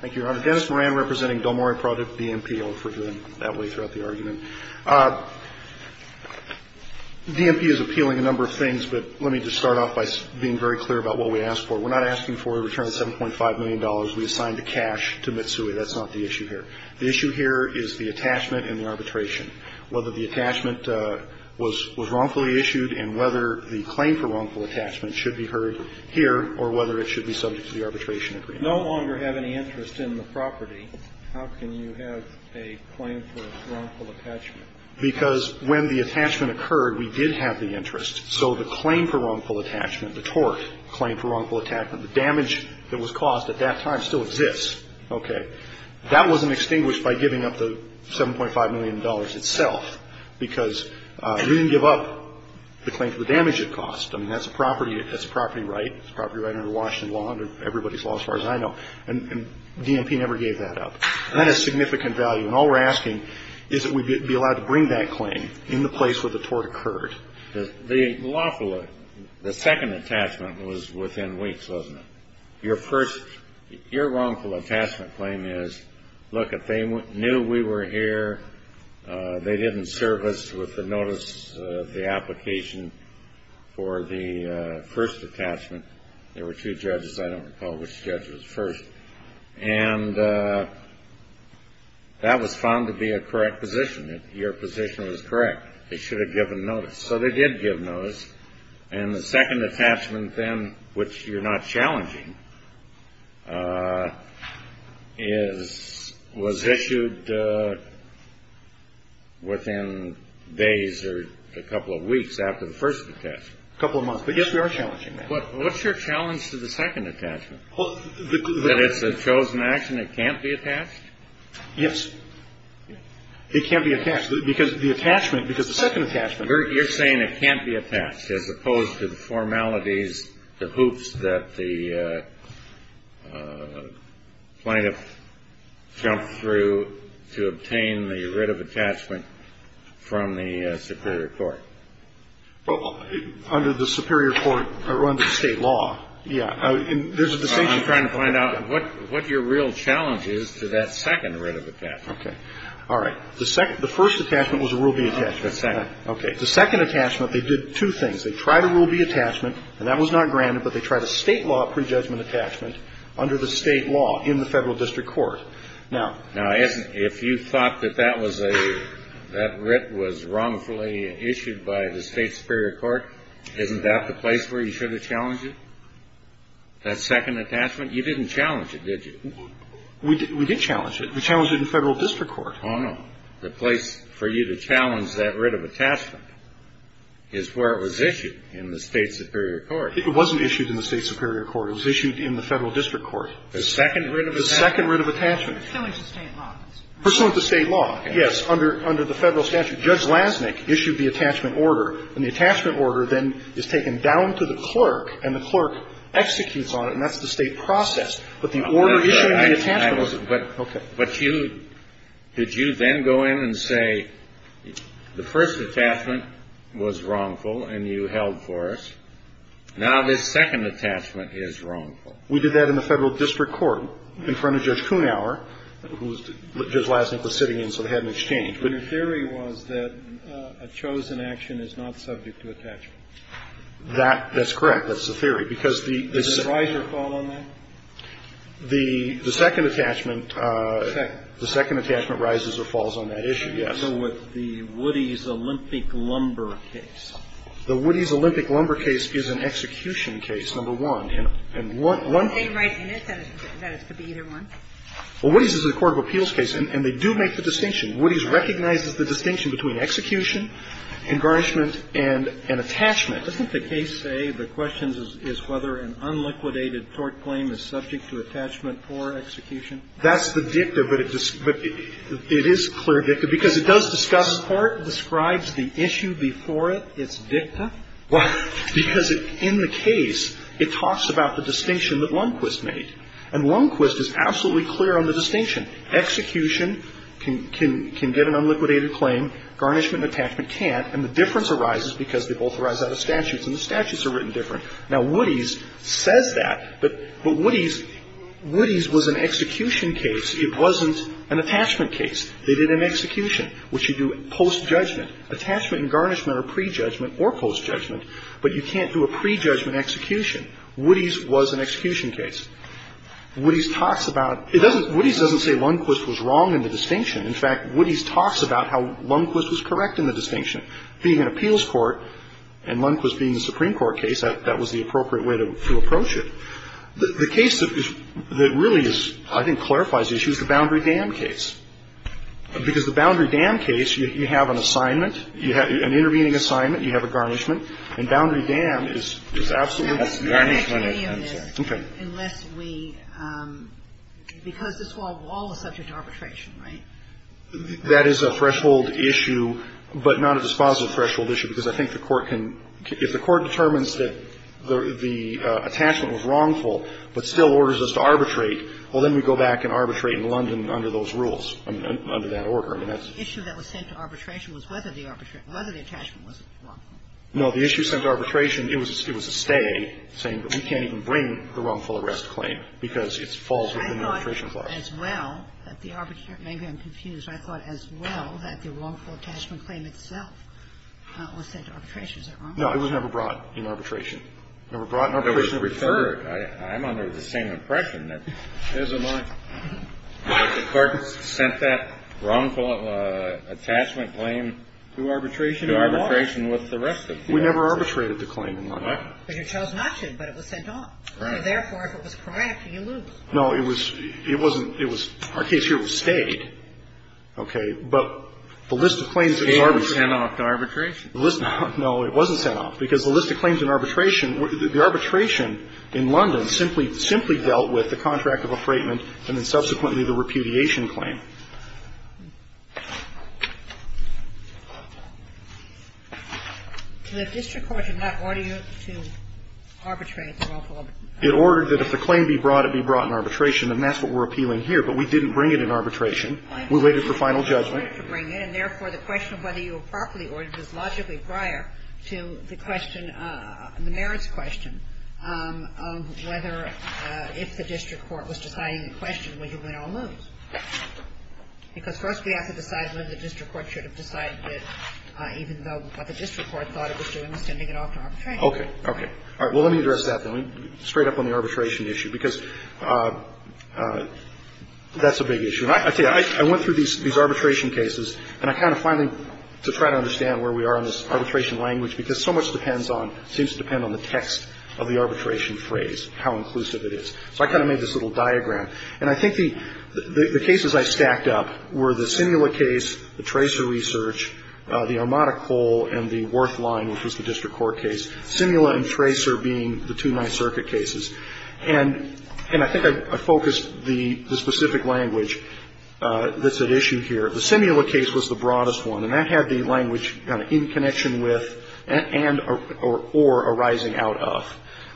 Thank you, Your Honor. Dennis Moran representing Domori Project, DMP. I hope we're doing that way throughout the argument. DMP is appealing a number of things, but let me just start off by being very clear about what we ask for. We're not asking for a return of $7.5 million we assigned to cash to Mitsui. That's not the issue here. The issue here is the attachment and the arbitration, whether the attachment was wrongfully issued and whether the claim for wrongful attachment should be heard here or whether it should be subject to the arbitration agreement. If you no longer have any interest in the property, how can you have a claim for wrongful attachment? Because when the attachment occurred, we did have the interest. So the claim for wrongful attachment, the tort claim for wrongful attachment, the damage that was caused at that time still exists. Okay. That wasn't extinguished by giving up the $7.5 million itself because we didn't give up the claim for the damage it cost. I mean, that's a property right. It's a property right under Washington law, under everybody's law as far as I know. And DMP never gave that up. And that has significant value. And all we're asking is that we be allowed to bring that claim in the place where the tort occurred. The lawful, the second attachment was within weeks, wasn't it? Your first, your wrongful attachment claim is, look, if they knew we were here, they didn't serve us with the notice of the application for the first attachment. There were two judges. I don't recall which judge was first. And that was found to be a correct position. Your position was correct. They should have given notice. So they did give notice. And the second attachment then, which you're not challenging, is, was issued within days or a couple of weeks after the first attachment. A couple of months. But, yes, we are challenging that. What's your challenge to the second attachment? That it's a chosen action? It can't be attached? Yes. It can't be attached. Because the attachment, because the second attachment. You're saying it can't be attached, as opposed to the formalities, the hoops that the plaintiff jumped through to obtain the writ of attachment from the superior court. Well, under the superior court, or under state law, yeah. There's a distinction. I'm trying to find out what your real challenge is to that second writ of attachment. Okay. All right. The first attachment was a rule-of-the-attachment. Okay. The second attachment, they did two things. They tried a rule-of-the-attachment, and that was not granted, but they tried a state law prejudgment attachment under the state law in the federal district court. Now, if you thought that that was a, that writ was wrongfully issued by the state superior court, isn't that the place where you should have challenged it? That second attachment? You didn't challenge it, did you? We did challenge it. We challenged it in federal district court. Oh, no. The place for you to challenge that writ of attachment is where it was issued, in the state superior court. It wasn't issued in the state superior court. It was issued in the federal district court. The second writ of attachment? The second writ of attachment. Pursuant to state law. Pursuant to state law, yes. Under the federal statute. Judge Lasnik issued the attachment order, and the attachment order then is taken down to the clerk, and the clerk executes on it, and that's the state process. But the order issued in the attachment order. Okay. But you, did you then go in and say, the first attachment was wrongful, and you held for us. Now this second attachment is wrongful. We did that in the federal district court in front of Judge Kuhnhauer, who Judge Lasnik was sitting in, so they had an exchange. But your theory was that a chosen action is not subject to attachment. That's correct. That's the theory. Because the. Is there a rise or fall on that? The second attachment. Second. The second attachment rises or falls on that issue, yes. So with the Woody's Olympic Lumber case. The Woody's Olympic Lumber case is an execution case, number one. And one. They write in it that it could be either one. Well, Woody's is a court of appeals case, and they do make the distinction. Woody's recognizes the distinction between execution and garnishment and attachment. Doesn't the case say the question is whether an unliquidated tort claim is subject to attachment or execution? That's the dicta, but it is clear dicta. Because it does discuss. The court describes the issue before it. It's dicta. Because in the case, it talks about the distinction that Lundquist made. And Lundquist is absolutely clear on the distinction. Execution can get an unliquidated claim. Garnishment and attachment can't. And the difference arises because they both arise out of statutes, and the statutes are written different. Now, Woody's says that, but Woody's was an execution case. It wasn't an attachment case. They did an execution, which you do post-judgment. Attachment and garnishment are pre-judgment or post-judgment, but you can't do a pre-judgment execution. Woody's was an execution case. Woody's talks about it. Woody's doesn't say Lundquist was wrong in the distinction. Being an appeals court, and Lundquist being a Supreme Court case, that was the appropriate way to approach it. The case that really is, I think, clarifies the issue is the Boundary Dam case. Because the Boundary Dam case, you have an assignment, an intervening assignment, you have a garnishment. And Boundary Dam is absolutely a garnishment. Okay. Because this whole wall is subject to arbitration, right? That is a threshold issue, but not a dispositive threshold issue, because I think the Court can – if the Court determines that the attachment was wrongful but still orders us to arbitrate, well, then we go back and arbitrate in London under those rules, under that order. The issue that was sent to arbitration was whether the attachment was wrongful. No. The issue sent to arbitration, it was a stay, saying we can't even bring the wrongful arrest claim because it falls within the arbitration clause. I thought as well that the – maybe I'm confused. I thought as well that the wrongful attachment claim itself was sent to arbitration. Is that wrong? No. It was never brought in arbitration. Never brought in arbitration. It was referred. I'm under the same impression that the Court sent that wrongful attachment claim to arbitration. To arbitration with the rest of the assets. We never arbitrated the claim in London. But you chose not to, but it was sent off. Right. Therefore, if it was correct, you lose. No. It was – it wasn't – it was – our case here was stayed. Okay. But the list of claims that was – It was sent off to arbitration. No. It wasn't sent off. Because the list of claims in arbitration – the arbitration in London simply dealt with the contract of affrightment and then subsequently the repudiation claim. The district court did not order you to arbitrate the wrongful – It ordered that if the claim be brought, it be brought in arbitration, and that's what we're appealing here. But we didn't bring it in arbitration. I understand. We waited for final judgment. We waited to bring it. And, therefore, the question of whether you were properly ordered was logically prior to the question – the merits question of whether – if the district court was deciding the question, would you win all moves. Because first we have to decide whether the district court should have decided it, even though what the district court thought it was doing was sending it off to Okay. All right. Well, let me address that then. Straight up on the arbitration issue, because that's a big issue. And I tell you, I went through these arbitration cases, and I kind of finally to try to understand where we are in this arbitration language, because so much depends on – seems to depend on the text of the arbitration phrase, how inclusive it is. So I kind of made this little diagram. And I think the cases I stacked up were the Sinula case, the Tracer research, the Armada Cole, and the Worth line, which was the district court case, Sinula and Tracer being the two Ninth Circuit cases. And I think I focused the specific language that's at issue here. The Sinula case was the broadest one, and that had the language kind of in connection with and or arising out of,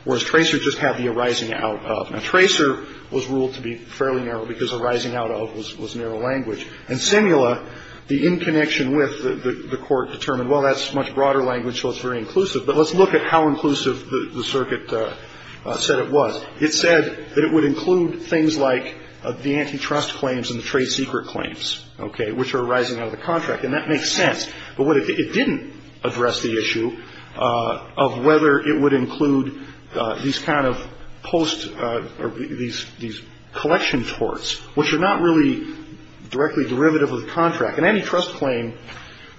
whereas Tracer just had the arising out of. Now, Tracer was ruled to be fairly narrow because arising out of was narrow language. And Sinula, the in connection with the court determined, well, that's much broader language, so it's very inclusive. But let's look at how inclusive the circuit said it was. It said that it would include things like the antitrust claims and the trade secret claims, okay, which are arising out of the contract. And that makes sense. But it didn't address the issue of whether it would include these kind of post or these collection torts, which are not really directly derivative of the contract. And antitrust claim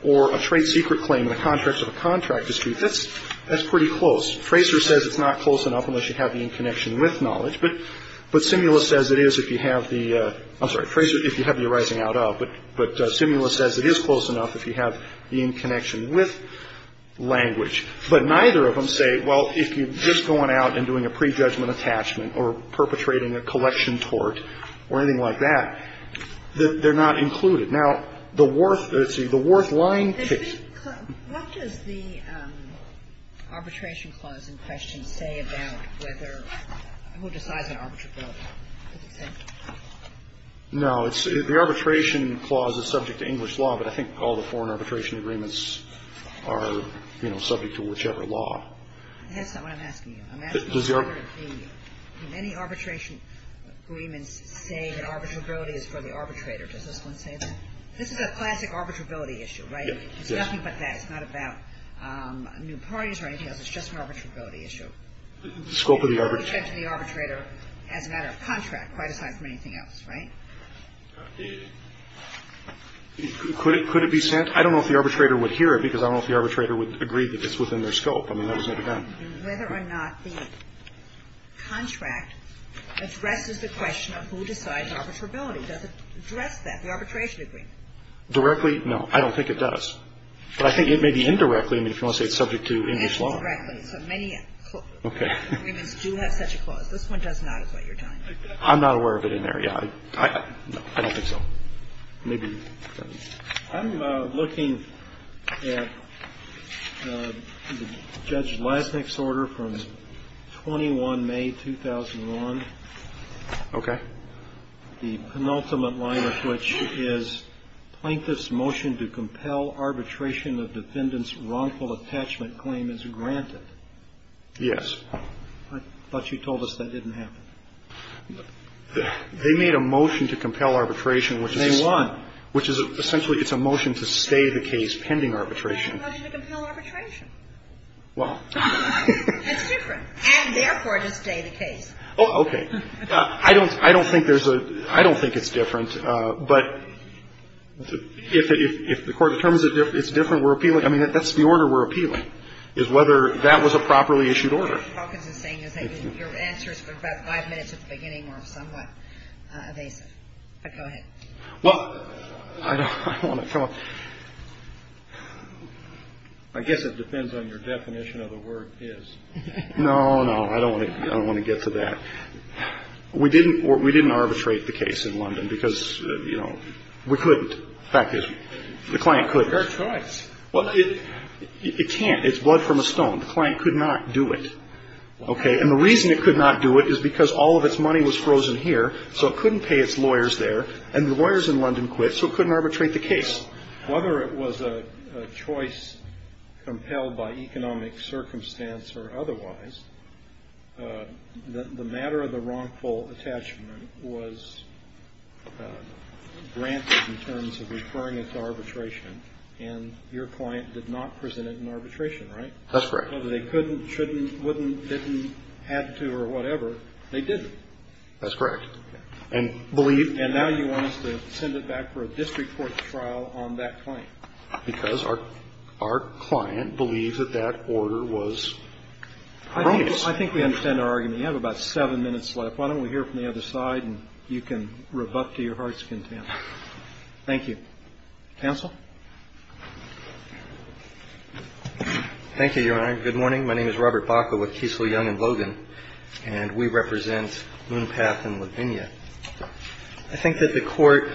or a trade secret claim in the context of a contract dispute, that's pretty close. Tracer says it's not close enough unless you have the in connection with knowledge. But Sinula says it is if you have the, I'm sorry, Tracer, if you have the arising out of, but Sinula says it is close enough if you have the in connection with language. But neither of them say, well, if you're just going out and doing a prejudgment attachment or perpetrating a collection tort or anything like that, they're not included. Now, the Worth, let's see, the Worth line case. Kagan. What does the arbitration clause in question say about whether, who decides an arbitral case? No, it's, the arbitration clause is subject to English law, but I think all the foreign law is subject to whatever law. That's not what I'm asking you. I'm asking you sort of the, do many arbitration agreements say that arbitrability is for the arbitrator? Does this one say that? This is a classic arbitrability issue, right? Yes. It's nothing but that. It's not about new parties or anything else. It's just an arbitrability issue. The scope of the arbitration. It's subject to the arbitrator as a matter of contract, quite aside from anything else, right? Could it be sent? I don't know if the arbitrator would hear it because I don't know if the arbitrator would agree that it's within their scope. I mean, that was never done. Whether or not the contract addresses the question of who decides arbitrability, does it address that, the arbitration agreement? Directly, no. I don't think it does. But I think it may be indirectly. I mean, if you want to say it's subject to English law. Indirectly. So many agreements do have such a clause. This one does not is what you're telling me. I'm not aware of it in there, yeah. I don't think so. Maybe. I'm looking at Judge Lesnik's order from 21 May, 2001. Okay. The penultimate line of which is, Plaintiff's motion to compel arbitration of defendant's wrongful attachment claim is granted. Yes. I thought you told us that didn't happen. They made a motion to compel arbitration which is. Which is essentially it's a motion to stay the case pending arbitration. And a motion to compel arbitration. Well. That's different. And therefore, to stay the case. Oh, okay. I don't think there's a... I don't think it's different. But if the Court determines it's different, we're appealing. I mean, that's the order we're appealing, is whether that was a properly issued order. Judge Hawkins is saying your answer is about five minutes at the beginning or somewhat evasive. Go ahead. Well, I don't want to... I guess it depends on your definition of the word is. No, no. I don't want to get to that. We didn't arbitrate the case in London because, you know, we couldn't. In fact, the client could. Well, it can't. It's blood from a stone. The client could not do it, okay? And the reason it could not do it is because all of its money was frozen here, so it couldn't pay its lawyers there. And the lawyers in London quit, so it couldn't arbitrate the case. Well, whether it was a choice compelled by economic circumstance or otherwise, the matter of the wrongful attachment was granted in terms of referring it to arbitration. And your client did not present it in arbitration, right? That's correct. Whether they couldn't, shouldn't, wouldn't, didn't, had to or whatever, they didn't. That's correct. And believe... And now you want us to send it back for a district court trial on that claim. Because our client believes that that order was erroneous. I think we understand our argument. You have about seven minutes left. Why don't we hear from the other side, and you can rebut to your heart's content. Thank you. Counsel? Thank you, Your Honor. Good morning. My name is Robert Baca with Kiesel, Young & Logan, and we represent Loone Path in Lavinia. I think that the Court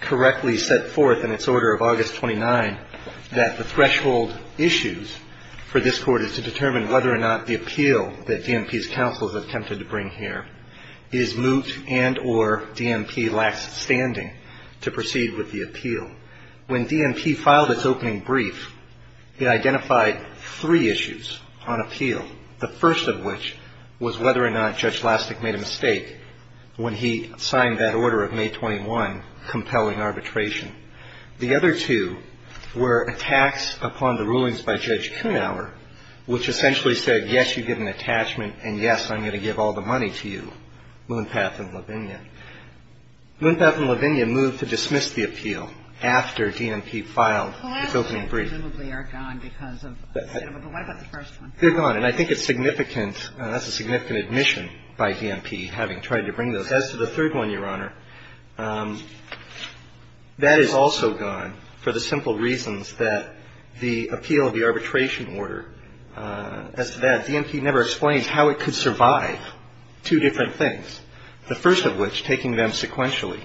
correctly set forth in its order of August 29 that the threshold issues for this Court is to determine whether or not the appeal that DMP's counsel has attempted to bring here is moot and or DMP lacks standing to proceed with the appeal. When DMP filed its opening brief, it identified three issues on appeal, the first of which was whether or not Judge Lastick made a mistake when he signed that order of May 21 compelling arbitration. The other two were attacks upon the rulings by Judge Kuhnauer, which essentially said, yes, you get an attachment, and yes, I'm going to give all the money to you, Loone Path in Lavinia. Loone Path in Lavinia moved to dismiss the appeal after DMP filed its opening brief. Well, the last two presumably are gone because of considerable. But what about the first one? They're gone, and I think it's significant. That's a significant admission by DMP having tried to bring those. As to the third one, Your Honor, that is also gone for the simple reasons that the appeal of the arbitration order, as to that, DMP never explains how it could survive two different things, the first of which, taking them sequentially,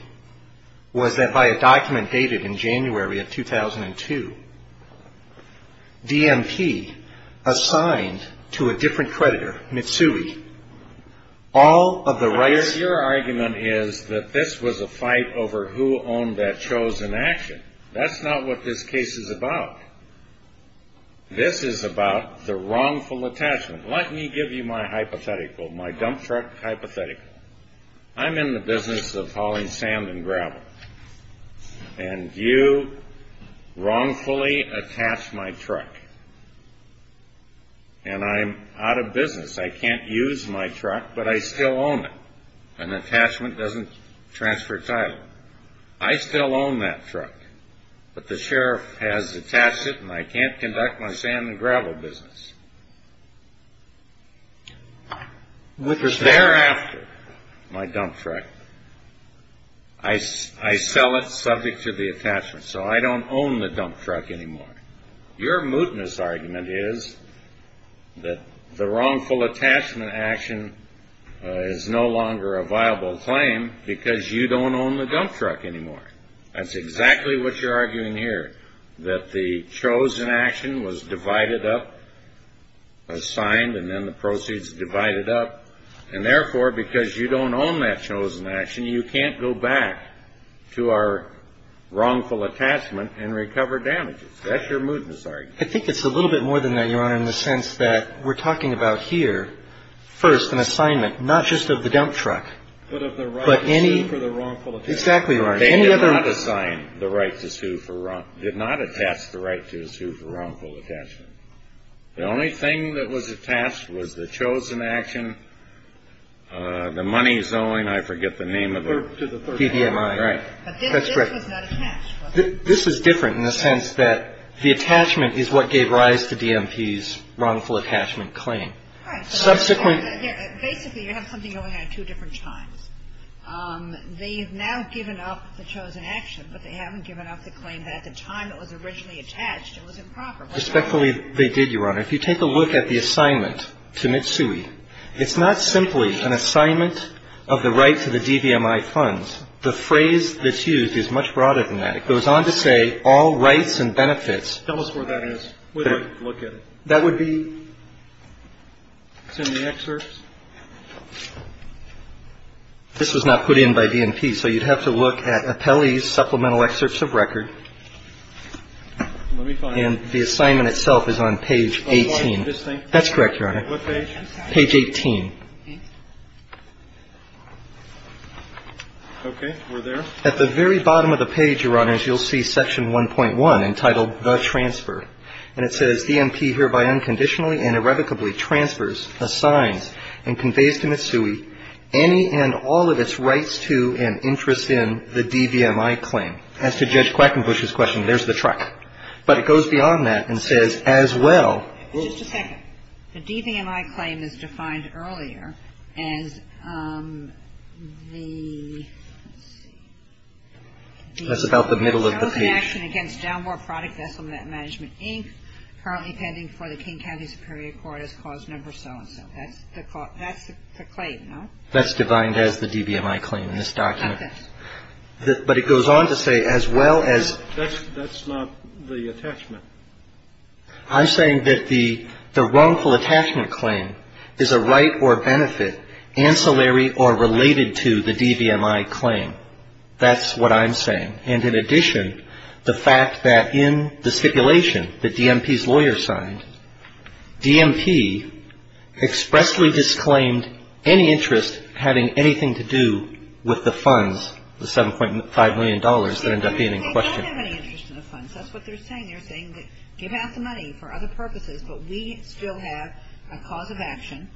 was that by a document dated in January of 2002, DMP assigned to a different creditor, Mitsui, all of the rights. Your argument is that this was a fight over who owned that chosen action. That's not what this case is about. This is about the wrongful attachment. Let me give you my hypothetical, my dump truck hypothetical. I'm in the business of hauling sand and gravel, and you wrongfully attach my truck. And I'm out of business. I can't use my truck, but I still own it. An attachment doesn't transfer title. I still own that truck, but the sheriff has attached it, and I can't conduct my sand and gravel business. Thereafter, my dump truck, I sell it subject to the attachment, so I don't own the dump truck anymore. Your mootness argument is that the wrongful attachment action is no longer a viable claim because you don't own the dump truck anymore. That's exactly what you're arguing here, that the chosen action was divided up, was signed, and then the proceeds divided up. And, therefore, because you don't own that chosen action, you can't go back to our wrongful attachment and recover damages. That's your mootness argument. I think it's a little bit more than that, Your Honor, in the sense that we're talking about here, first, an assignment, not just of the dump truck. But of the right to sue for the wrongful attachment. Exactly, Your Honor. They did not assign the right to sue for wrongful attachment. The only thing that was attached was the chosen action, the money's owing, I forget the name of it. To the third party. Right. But this was not attached. This is different in the sense that the attachment is what gave rise to DMP's wrongful attachment claim. Subsequent. Basically, you have something going on at two different times. They have now given up the chosen action, but they haven't given up the claim that at the time it was originally attached, it was improper. Respectfully, they did, Your Honor. If you take a look at the assignment to Mitsui, it's not simply an assignment of the right to the DVMI funds. The phrase that's used is much broader than that. It goes on to say all rights and benefits. Tell us where that is. Look at it. That would be. It's in the excerpts. This was not put in by DMP. So you'd have to look at Appelli's supplemental excerpts of record. Let me find it. And the assignment itself is on page 18. That's correct, Your Honor. What page? Page 18. Okay. We're there. At the very bottom of the page, Your Honors, you'll see section 1.1 entitled The Transfer. And it says, DMP hereby unconditionally and irrevocably transfers, assigns, and conveys to Mitsui any and all of its rights to and interest in the DVMI claim. As to Judge Quackenbush's question, there's the truck. But it goes beyond that and says, as well. Just a second. Okay. The DVMI claim is defined earlier as the. Let's see. That's about the middle of the page. There was an action against Dalmore Product Vessel Net Management, Inc., currently pending for the King County Superior Court as cause number so-and-so. That's the claim, no? That's defined as the DVMI claim in this document. Okay. But it goes on to say, as well as. That's not the attachment. I'm saying that the wrongful attachment claim is a right or benefit ancillary or related to the DVMI claim. That's what I'm saying. And in addition, the fact that in the stipulation that DMP's lawyer signed, DMP expressly disclaimed any interest having anything to do with the funds, the $7.5 million that ended up being in question. We don't have any interest in the funds. That's what they're saying. They're saying that give out the money for other purposes, but we still have a cause of action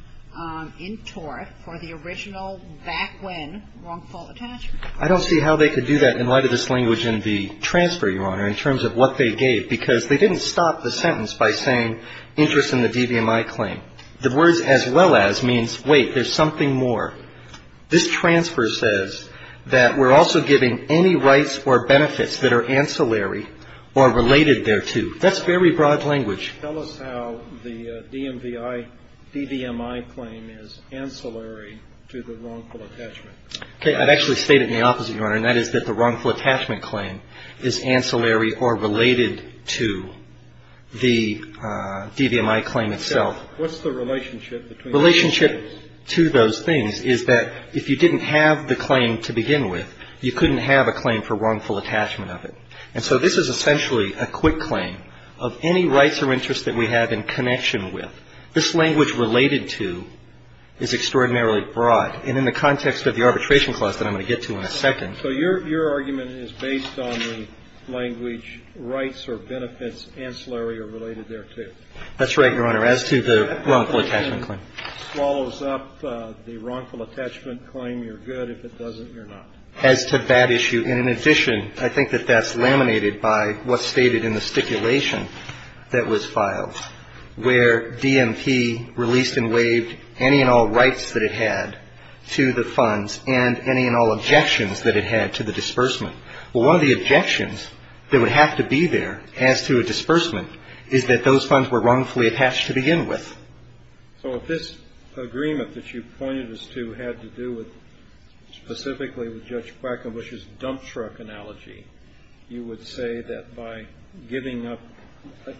in tort for the original back when wrongful attachment. I don't see how they could do that in light of this language in the transfer, Your Honor, in terms of what they gave, because they didn't stop the sentence by saying interest in the DVMI claim. The words, as well as, means, wait, there's something more. This transfer says that we're also giving any rights or benefits that are ancillary or related thereto. That's very broad language. Tell us how the DMVI, DVMI claim is ancillary to the wrongful attachment. Okay. I've actually stated the opposite, Your Honor, and that is that the wrongful attachment claim is ancillary or related to the DVMI claim itself. What's the relationship between those things? The relationship between those things is that if you didn't have the claim to begin with, you couldn't have a claim for wrongful attachment of it. And so this is essentially a quick claim of any rights or interests that we have in connection with. This language related to is extraordinarily broad. And in the context of the arbitration clause that I'm going to get to in a second. So your argument is based on the language rights or benefits ancillary or related thereto. That's right, Your Honor, as to the wrongful attachment claim. If it swallows up the wrongful attachment claim, you're good. If it doesn't, you're not. As to that issue, in addition, I think that that's laminated by what's stated in the stipulation that was filed, where DMP released and waived any and all rights that it had to the funds and any and all objections that it had to the disbursement. Well, one of the objections that would have to be there as to a disbursement is that those funds were wrongfully attached to begin with. So if this agreement that you pointed us to had to do with specifically with Judge Quackenbush's dump truck analogy, you would say that by giving up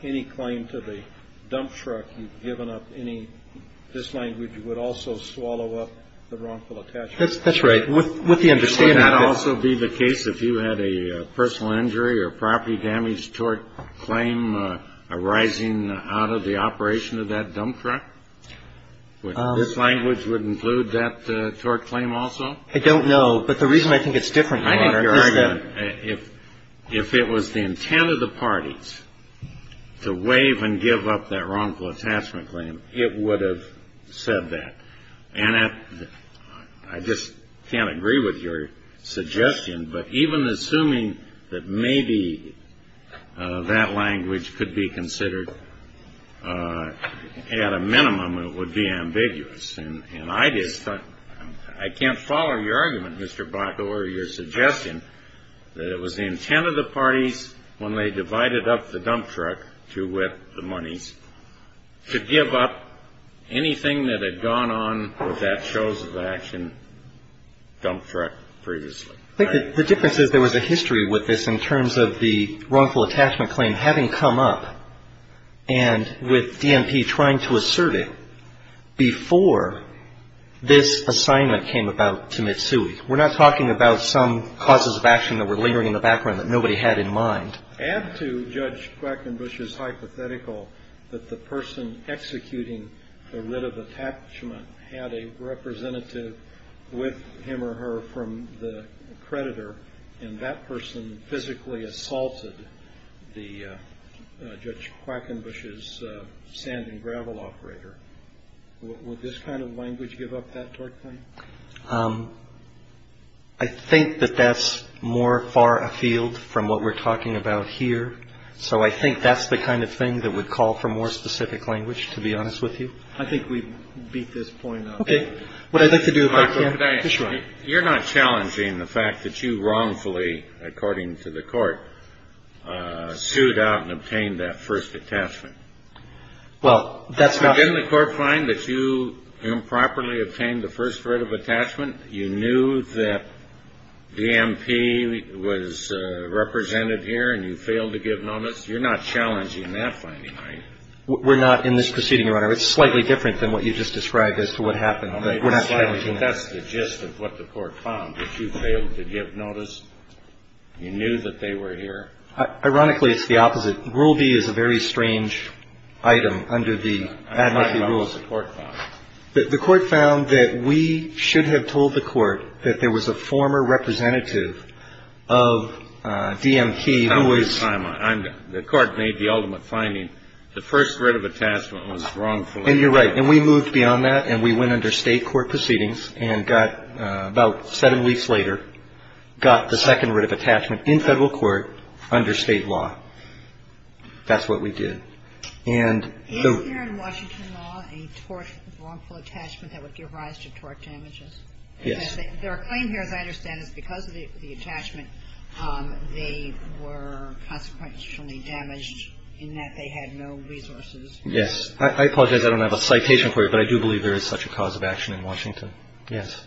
any claim to the dump truck, you've given up any this language would also swallow up the wrongful attachment. That's right. With the understanding that. Would that also be the case if you had a personal injury or property damage tort claim arising out of the operation of that dump truck? Would this language would include that tort claim also? I don't know. But the reason I think it's different, Your Honor, is that if it was the intent of the parties to waive and give up that wrongful attachment claim, it would have said that. And I just can't agree with your suggestion. But even assuming that maybe that language could be considered at a minimum, it would be ambiguous. And I just thought I can't follow your argument, Mr. Blackwell, or your suggestion that it was the intent of the parties when they divided up the dump truck to whip the monies, to give up anything that had gone on with that shows of action dump truck previously. I think the difference is there was a history with this in terms of the wrongful attachment claim having come up and with DNP trying to assert it before this assignment came about to Mitsui. We're not talking about some causes of action that were lingering in the background that nobody had in mind. Add to Judge Quackenbush's hypothetical that the person executing the writ of attachment had a representative with him or her from the creditor, and that person physically assaulted Judge Quackenbush's sand and gravel operator. Would this kind of language give up that tort claim? I think that that's more far afield from what we're talking about here. So I think that's the kind of thing that would call for more specific language, to be honest with you. I think we beat this point up. Okay. What I'd like to do if I can. You're not challenging the fact that you wrongfully, according to the court, sued out and obtained that first attachment. Well, that's not. Didn't the court find that you improperly obtained the first writ of attachment? You knew that DNP was represented here and you failed to give notice. You're not challenging that finding, right? We're not in this proceeding, Your Honor. It's slightly different than what you just described as to what happened. That's the gist of what the court found, that you failed to give notice. You knew that they were here. Ironically, it's the opposite. Rule B is a very strange item under the ad hoc rules. I'm talking about what the court found. The court found that we should have told the court that there was a former representative of DNP who was. The court made the ultimate finding. The first writ of attachment was wrongfully. And you're right. And we moved beyond that and we went under State court proceedings and got, about seven weeks later, got the second writ of attachment in Federal court under State law. That's what we did. And the. Is there in Washington law a tort, wrongful attachment that would give rise to tort damages? Yes. Their claim here, as I understand it, is because of the attachment, they were consequentially damaged in that they had no resources. Yes. I apologize. I don't have a citation for you, but I do believe there is such a cause of action in Washington. Yes.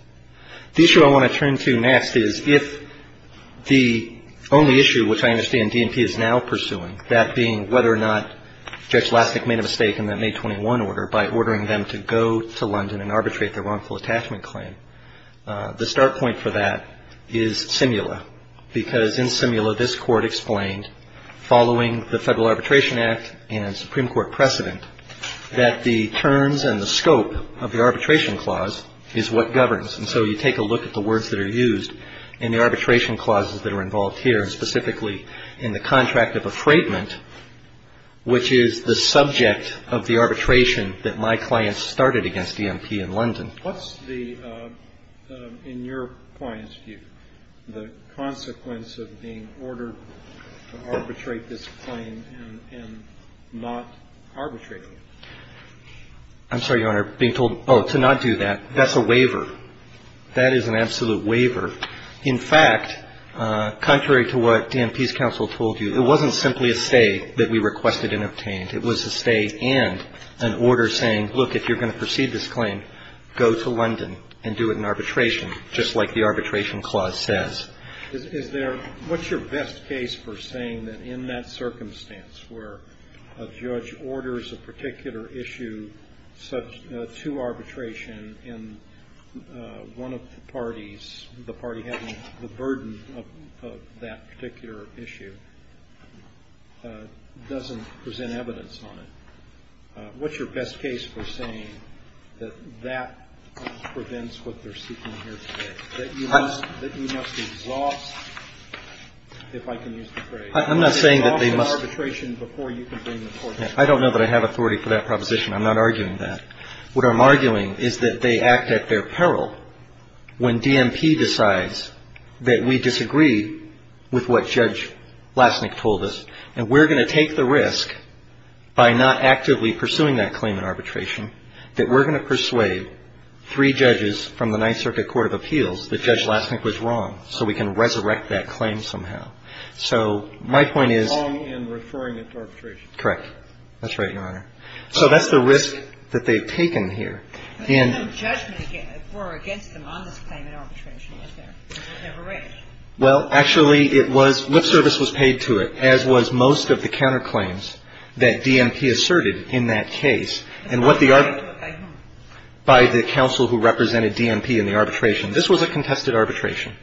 The issue I want to turn to next is if the only issue which I understand DNP is now pursuing, that being whether or not Judge Lasnik made a mistake in that May 21 order by ordering them to go to London and arbitrate their wrongful attachment claim, the start point for that is Simula, because in Simula this court explained, following the Federal Arbitration Act and Supreme Court precedent, that the terms and the scope of the arbitration clause is what governs. And so you take a look at the words that are used in the arbitration clauses that are involved here, and specifically in the contract of affraidment, which is the subject of the arbitration that my clients started against DNP in London. What's the, in your client's view, the consequence of being ordered to arbitrate this claim and not arbitrate it? I'm sorry, Your Honor. Being told, oh, to not do that, that's a waiver. That is an absolute waiver. In fact, contrary to what DNP's counsel told you, it wasn't simply a stay that we requested and obtained. It was a stay and an order saying, look, if you're going to proceed this claim, go to London and do it in arbitration, just like the arbitration clause says. Is there, what's your best case for saying that in that circumstance where a judge orders a particular issue to arbitration and one of the parties, the party having the burden of that particular issue, doesn't present evidence on it? What's your best case for saying that that prevents what they're seeking here today, that you must exhaust, if I can use the phrase, exhaust the arbitration before you can bring the court to trial? I don't know that I have authority for that proposition. I'm not arguing that. What I'm arguing is that they act at their peril when DNP decides that we disagree with what Judge Lassnick told us. And we're going to take the risk by not actively pursuing that claim in arbitration, that we're going to persuade three judges from the Ninth Circuit Court of Appeals that Judge Lassnick was wrong, so we can resurrect that claim somehow. So my point is ‑‑ Wrong in referring it to arbitration. Correct. That's right, Your Honor. So that's the risk that they've taken here. But no judgment were against them on this claim in arbitration, was there? It was never raised. Well, actually, it was ‑‑ lip service was paid to it, as was most of the counterclaims that DNP asserted in that case. And what the ‑‑ By whom? By whom? By the counsel who represented DNP in the arbitration. This was a contested arbitration.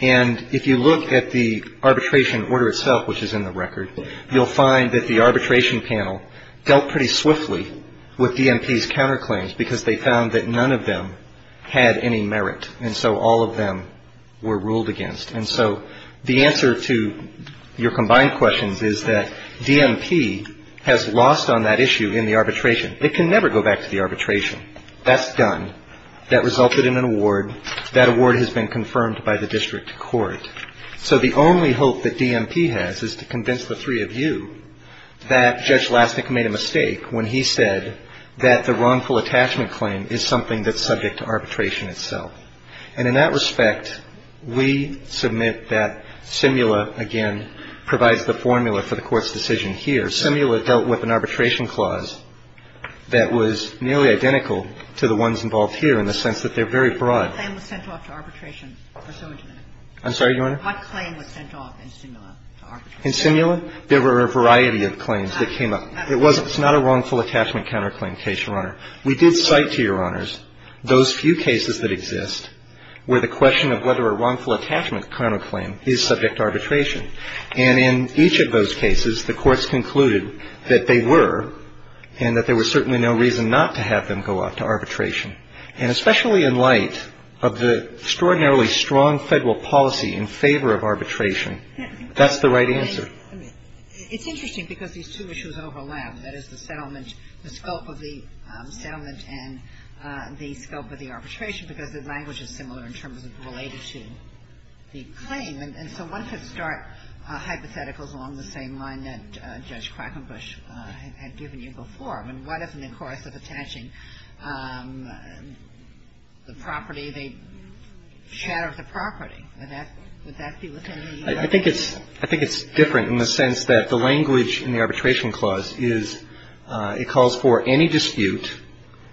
And if you look at the arbitration order itself, which is in the record, you'll find that the arbitration panel dealt pretty swiftly with DNP's counterclaims because they found that none of them had any merit. And so all of them were ruled against. And so the answer to your combined questions is that DNP has lost on that issue in the arbitration. It can never go back to the arbitration. That's done. That resulted in an award. That award has been confirmed by the district court. So the only hope that DNP has is to convince the three of you that Judge Lastnick made a mistake when he said that the wrongful attachment claim is something that's subject to arbitration itself. And in that respect, we submit that SIMULA, again, provides the formula for the Court's decision here. SIMULA dealt with an arbitration clause that was nearly identical to the ones involved here in the sense that they're very broad. The claim was sent off to arbitration pursuant to that. I'm sorry, Your Honor? What claim was sent off in SIMULA to arbitration? In SIMULA, there were a variety of claims that came up. It's not a wrongful attachment counterclaim case, Your Honor. We did cite to Your Honors those few cases that exist where the question of whether a wrongful attachment counterclaim is subject to arbitration. And in each of those cases, the courts concluded that they were and that there was certainly no reason not to have them go out to arbitration. And especially in light of the extraordinarily strong Federal policy in favor of arbitration, that's the right answer. It's interesting because these two issues overlap. That is, the settlement, the scope of the settlement and the scope of the arbitration because the language is similar in terms of related to the claim. And so one could start hypotheticals along the same line that Judge Quackenbush had given you before. And what if in the course of attaching the property, they shattered the property? Would that be within the U.S.C.? I think it's different in the sense that the language in the arbitration clause is it calls for any dispute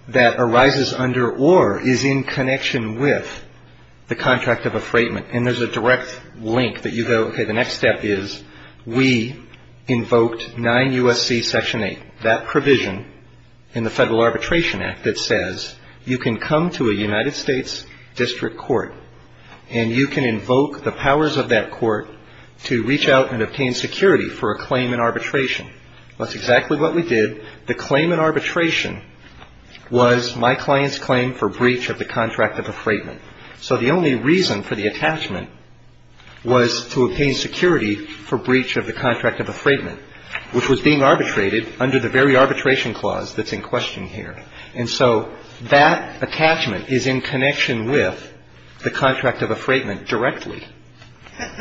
that arises under or is in connection with the contract of a freightman. And there's a direct link that you go, okay, the next step is we invoked 9 U.S.C. Section 8, that provision in the Federal Arbitration Act that says you can come to a United States District Court and you can invoke the powers of that court to reach out and obtain security for a claim in arbitration. That's exactly what we did. The claim in arbitration was my client's claim for breach of the contract of a freightman. So the only reason for the attachment was to obtain security for breach of the contract of a freightman, which was being arbitrated under the very arbitration clause that's in question here. And so that attachment is in connection with the contract of a freightman directly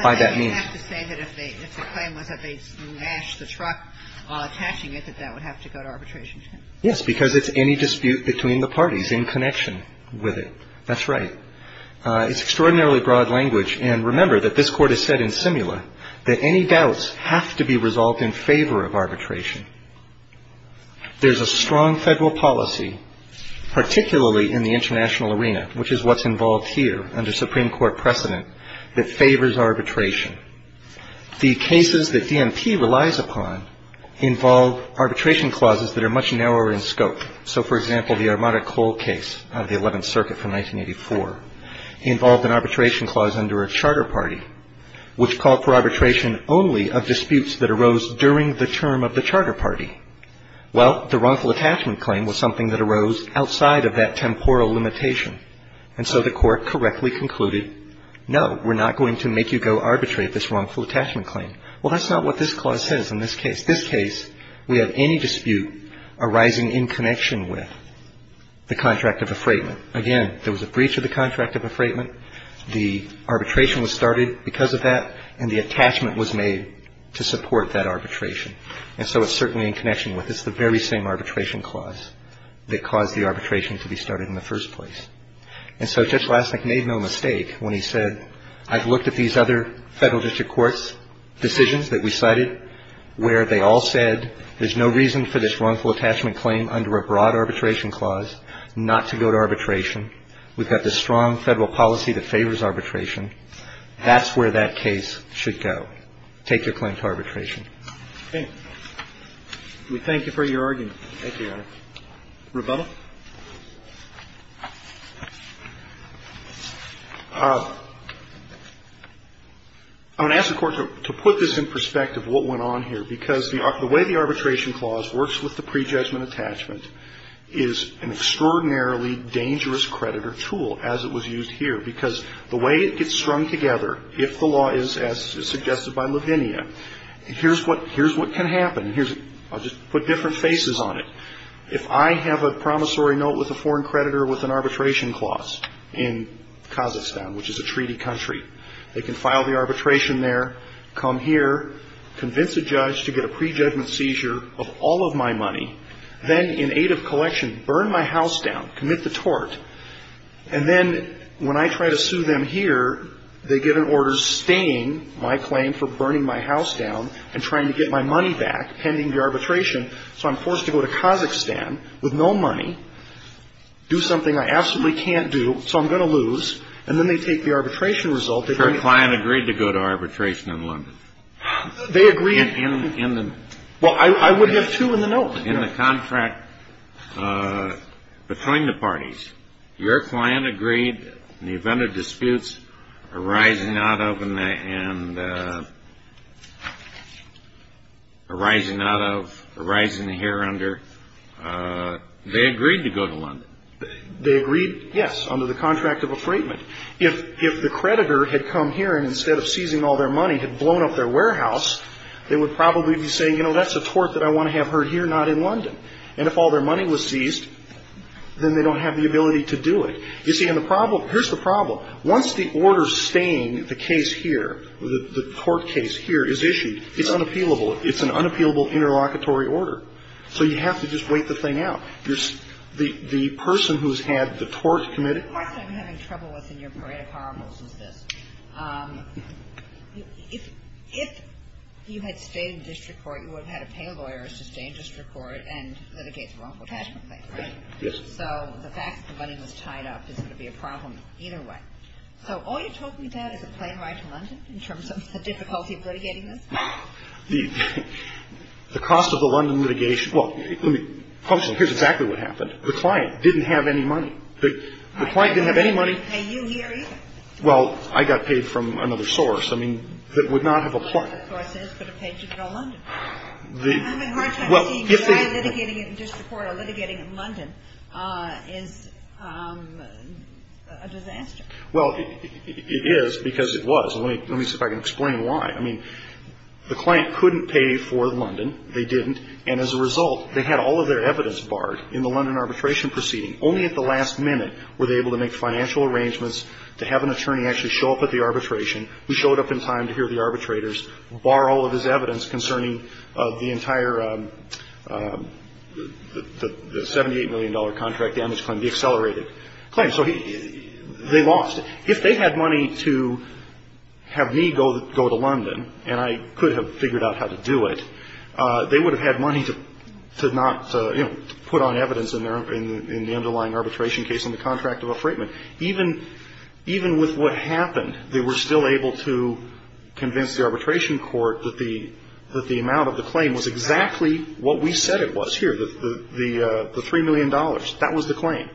by that means. But then you have to say that if the claim was that they smashed the truck while attaching it, that that would have to go to arbitration. Yes, because it's any dispute between the parties in connection with it. That's right. It's extraordinarily broad language. And remember that this Court has said in simula that any doubts have to be resolved in favor of arbitration. There's a strong federal policy, particularly in the international arena, which is what's involved here under Supreme Court precedent, that favors arbitration. The cases that DMP relies upon involve arbitration clauses that are much narrower in scope. So, for example, the Armada Cole case out of the Eleventh Circuit from 1984 involved an arbitration clause under a charter party, which called for arbitration only of disputes that arose during the term of the charter party. Well, the wrongful attachment claim was something that arose outside of that temporal limitation. And so the Court correctly concluded, no, we're not going to make you go arbitrate this wrongful attachment claim. Well, that's not what this clause says in this case. This case, we have any dispute arising in connection with the contract of a freightman. Again, there was a breach of the contract of a freightman. The arbitration was started because of that. And the attachment was made to support that arbitration. And so it's certainly in connection with it. It's the very same arbitration clause that caused the arbitration to be started in the first place. And so Judge Lasnik made no mistake when he said, I've looked at these other federal district courts' decisions that we cited where they all said there's no reason for this arbitration. We've got this strong federal policy that favors arbitration. That's where that case should go. Take your claim to arbitration. We thank you for your argument. Thank you, Your Honor. Rubella? I'm going to ask the Court to put this in perspective, what went on here. Because the way the arbitration clause works with the prejudgment attachment is an extraordinarily dangerous creditor tool, as it was used here. Because the way it gets strung together, if the law is as suggested by Lavinia, here's what can happen. I'll just put different faces on it. If I have a promissory note with a foreign creditor with an arbitration clause in Kazakhstan, which is a treaty country, they can file the arbitration there, come here, convince a judge to get a prejudgment seizure of all of my native collection, burn my house down, commit the tort. And then when I try to sue them here, they get an order staying my claim for burning my house down and trying to get my money back pending the arbitration. So I'm forced to go to Kazakhstan with no money, do something I absolutely can't do, so I'm going to lose. And then they take the arbitration result. If your client agreed to go to arbitration in London. They agreed. In the... Well, I would have two in the note. In the contract between the parties, your client agreed in the event of disputes arising out of and arising here under, they agreed to go to London. They agreed, yes, under the contract of affrightment. If the creditor had come here and instead of seizing all their money had blown up their warehouse, they would probably be saying, you know, that's a problem in London. And if all their money was seized, then they don't have the ability to do it. You see, and the problem, here's the problem. Once the order staying the case here, the tort case here is issued, it's unappealable. It's an unappealable interlocutory order. So you have to just wait the thing out. The person who's had the tort committed... The question I'm having trouble with in your parade of horribles is this. If you had stayed in district court, you would have had to pay lawyers to stay in district court and litigate the wrongful cash complaint, right? Yes. So the fact that the money was tied up is going to be a problem either way. So all you're talking about is a plane ride to London in terms of the difficulty of litigating this? The cost of the London litigation, well, here's exactly what happened. The client didn't have any money. The client didn't have any money. They didn't pay you here either. Well, I got paid from another source. I mean, that would not have applied. It would have paid you to go to London. I'm having a hard time seeing why litigating in district court or litigating in London is a disaster. Well, it is because it was. Let me see if I can explain why. I mean, the client couldn't pay for London. They didn't. And as a result, they had all of their evidence barred in the London arbitration proceeding. Only at the last minute were they able to make financial arrangements to have an attorney actually show up at the arbitration who showed up in time to hear the arbitrators borrow all of his evidence concerning the entire $78 million contract damage claim, the accelerated claim. So they lost it. If they had money to have me go to London, and I could have figured out how to do it, they would have had money to not, you know, put on evidence in the underlying arbitration case on the contract of a freightman. Even with what happened, they were still able to convince the arbitration court that the amount of the claim was exactly what we said it was here, the $3 million. That was the claim.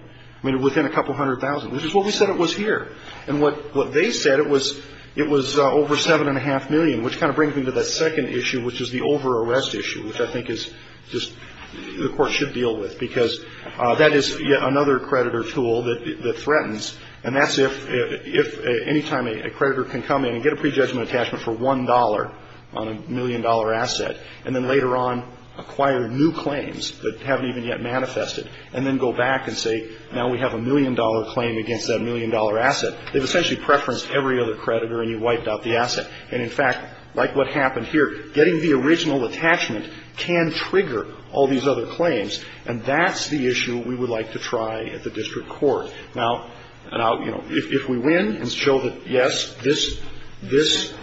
I mean, within a couple hundred thousand, which is what we said it was here. And what they said, it was over $7.5 million, which kind of brings me to that second issue, which is the over-arrest issue, which I think is just the court should deal with, because that is yet another creditor tool that threatens. And that's if any time a creditor can come in and get a prejudgment attachment for $1 on a million-dollar asset, and then later on acquire new claims that haven't even yet manifested, and then go back and say, now we have a million-dollar claim against that million-dollar asset, they've essentially preferenced every other creditor, and you wiped out the asset. And, in fact, like what happened here, getting the original attachment can trigger all these other claims, and that's the issue we would like to try at the district court. Now, you know, if we win and show that, yes, this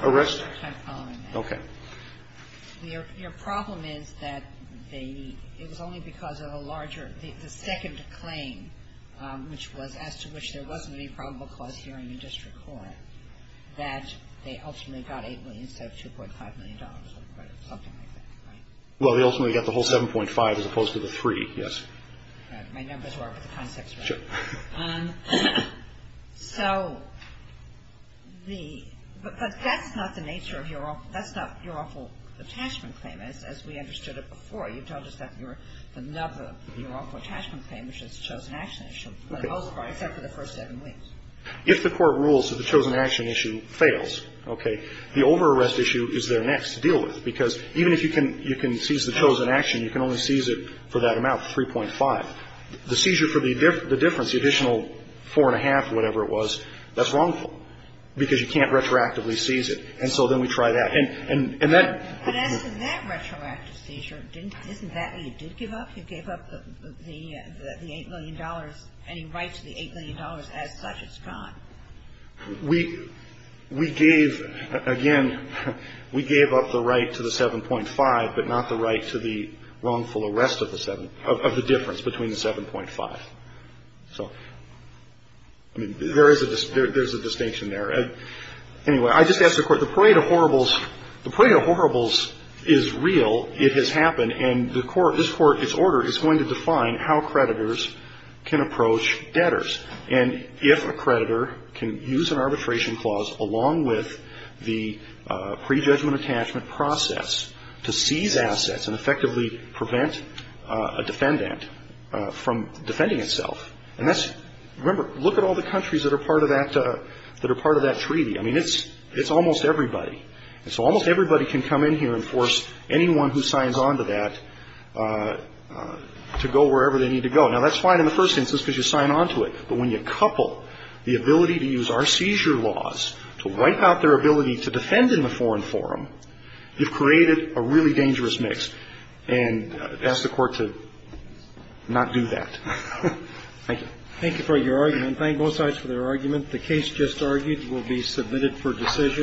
arrested. Okay. Your problem is that they need – it was only because of a larger – the second claim, which was as to which there wasn't any probable cause here in the district court, that they ultimately got $8 million instead of $2.5 million on credit, something like that, right? Well, they ultimately got the whole 7.5, as opposed to the 3, yes. My numbers were off of the context, right? Sure. So the – but that's not the nature of your – that's not your awful attachment claim, as we understood it before. You told us that you were – the love of your awful attachment claim, which is chosen action, is shown for the most part, except for the first seven weeks. If the court rules that the chosen action issue fails, okay, the over-arrest issue is there next to deal with, because even if you can – you can seize the chosen action, you can only seize it for that amount, 3.5. The seizure for the difference, the additional 4.5 or whatever it was, that's wrongful because you can't retroactively seize it. And so then we try that. And that – But as to that retroactive seizure, didn't – isn't that where you did give up? You gave up the $8 million, any right to the $8 million as such. It's gone. We – we gave – again, we gave up the right to the 7.5, but not the right to the wrongful arrest of the 7 – of the difference between the 7.5. So, I mean, there is a – there's a distinction there. Anyway, I just asked the Court, the parade of horribles – the parade of horribles is real. It has happened. And the Court – this Court, its order is going to define how creditors can approach debtors. And if a creditor can use an arbitration clause along with the prejudgment attachment process to seize assets and effectively prevent a defendant from defending itself, and that's – remember, look at all the countries that are part of that – that are part of that treaty. I mean, it's – it's almost everybody. And so almost everybody can come in here and force anyone who signs on to that to go wherever they need to go. Now, that's fine in the first instance because you sign on to it. But when you couple the ability to use our seizure laws to wipe out their ability to defend in the foreign forum, you've created a really dangerous mix. And I'd ask the Court to not do that. Thank you. Thank you for your argument. Thank both sides for their argument. The case just argued will be submitted for decision.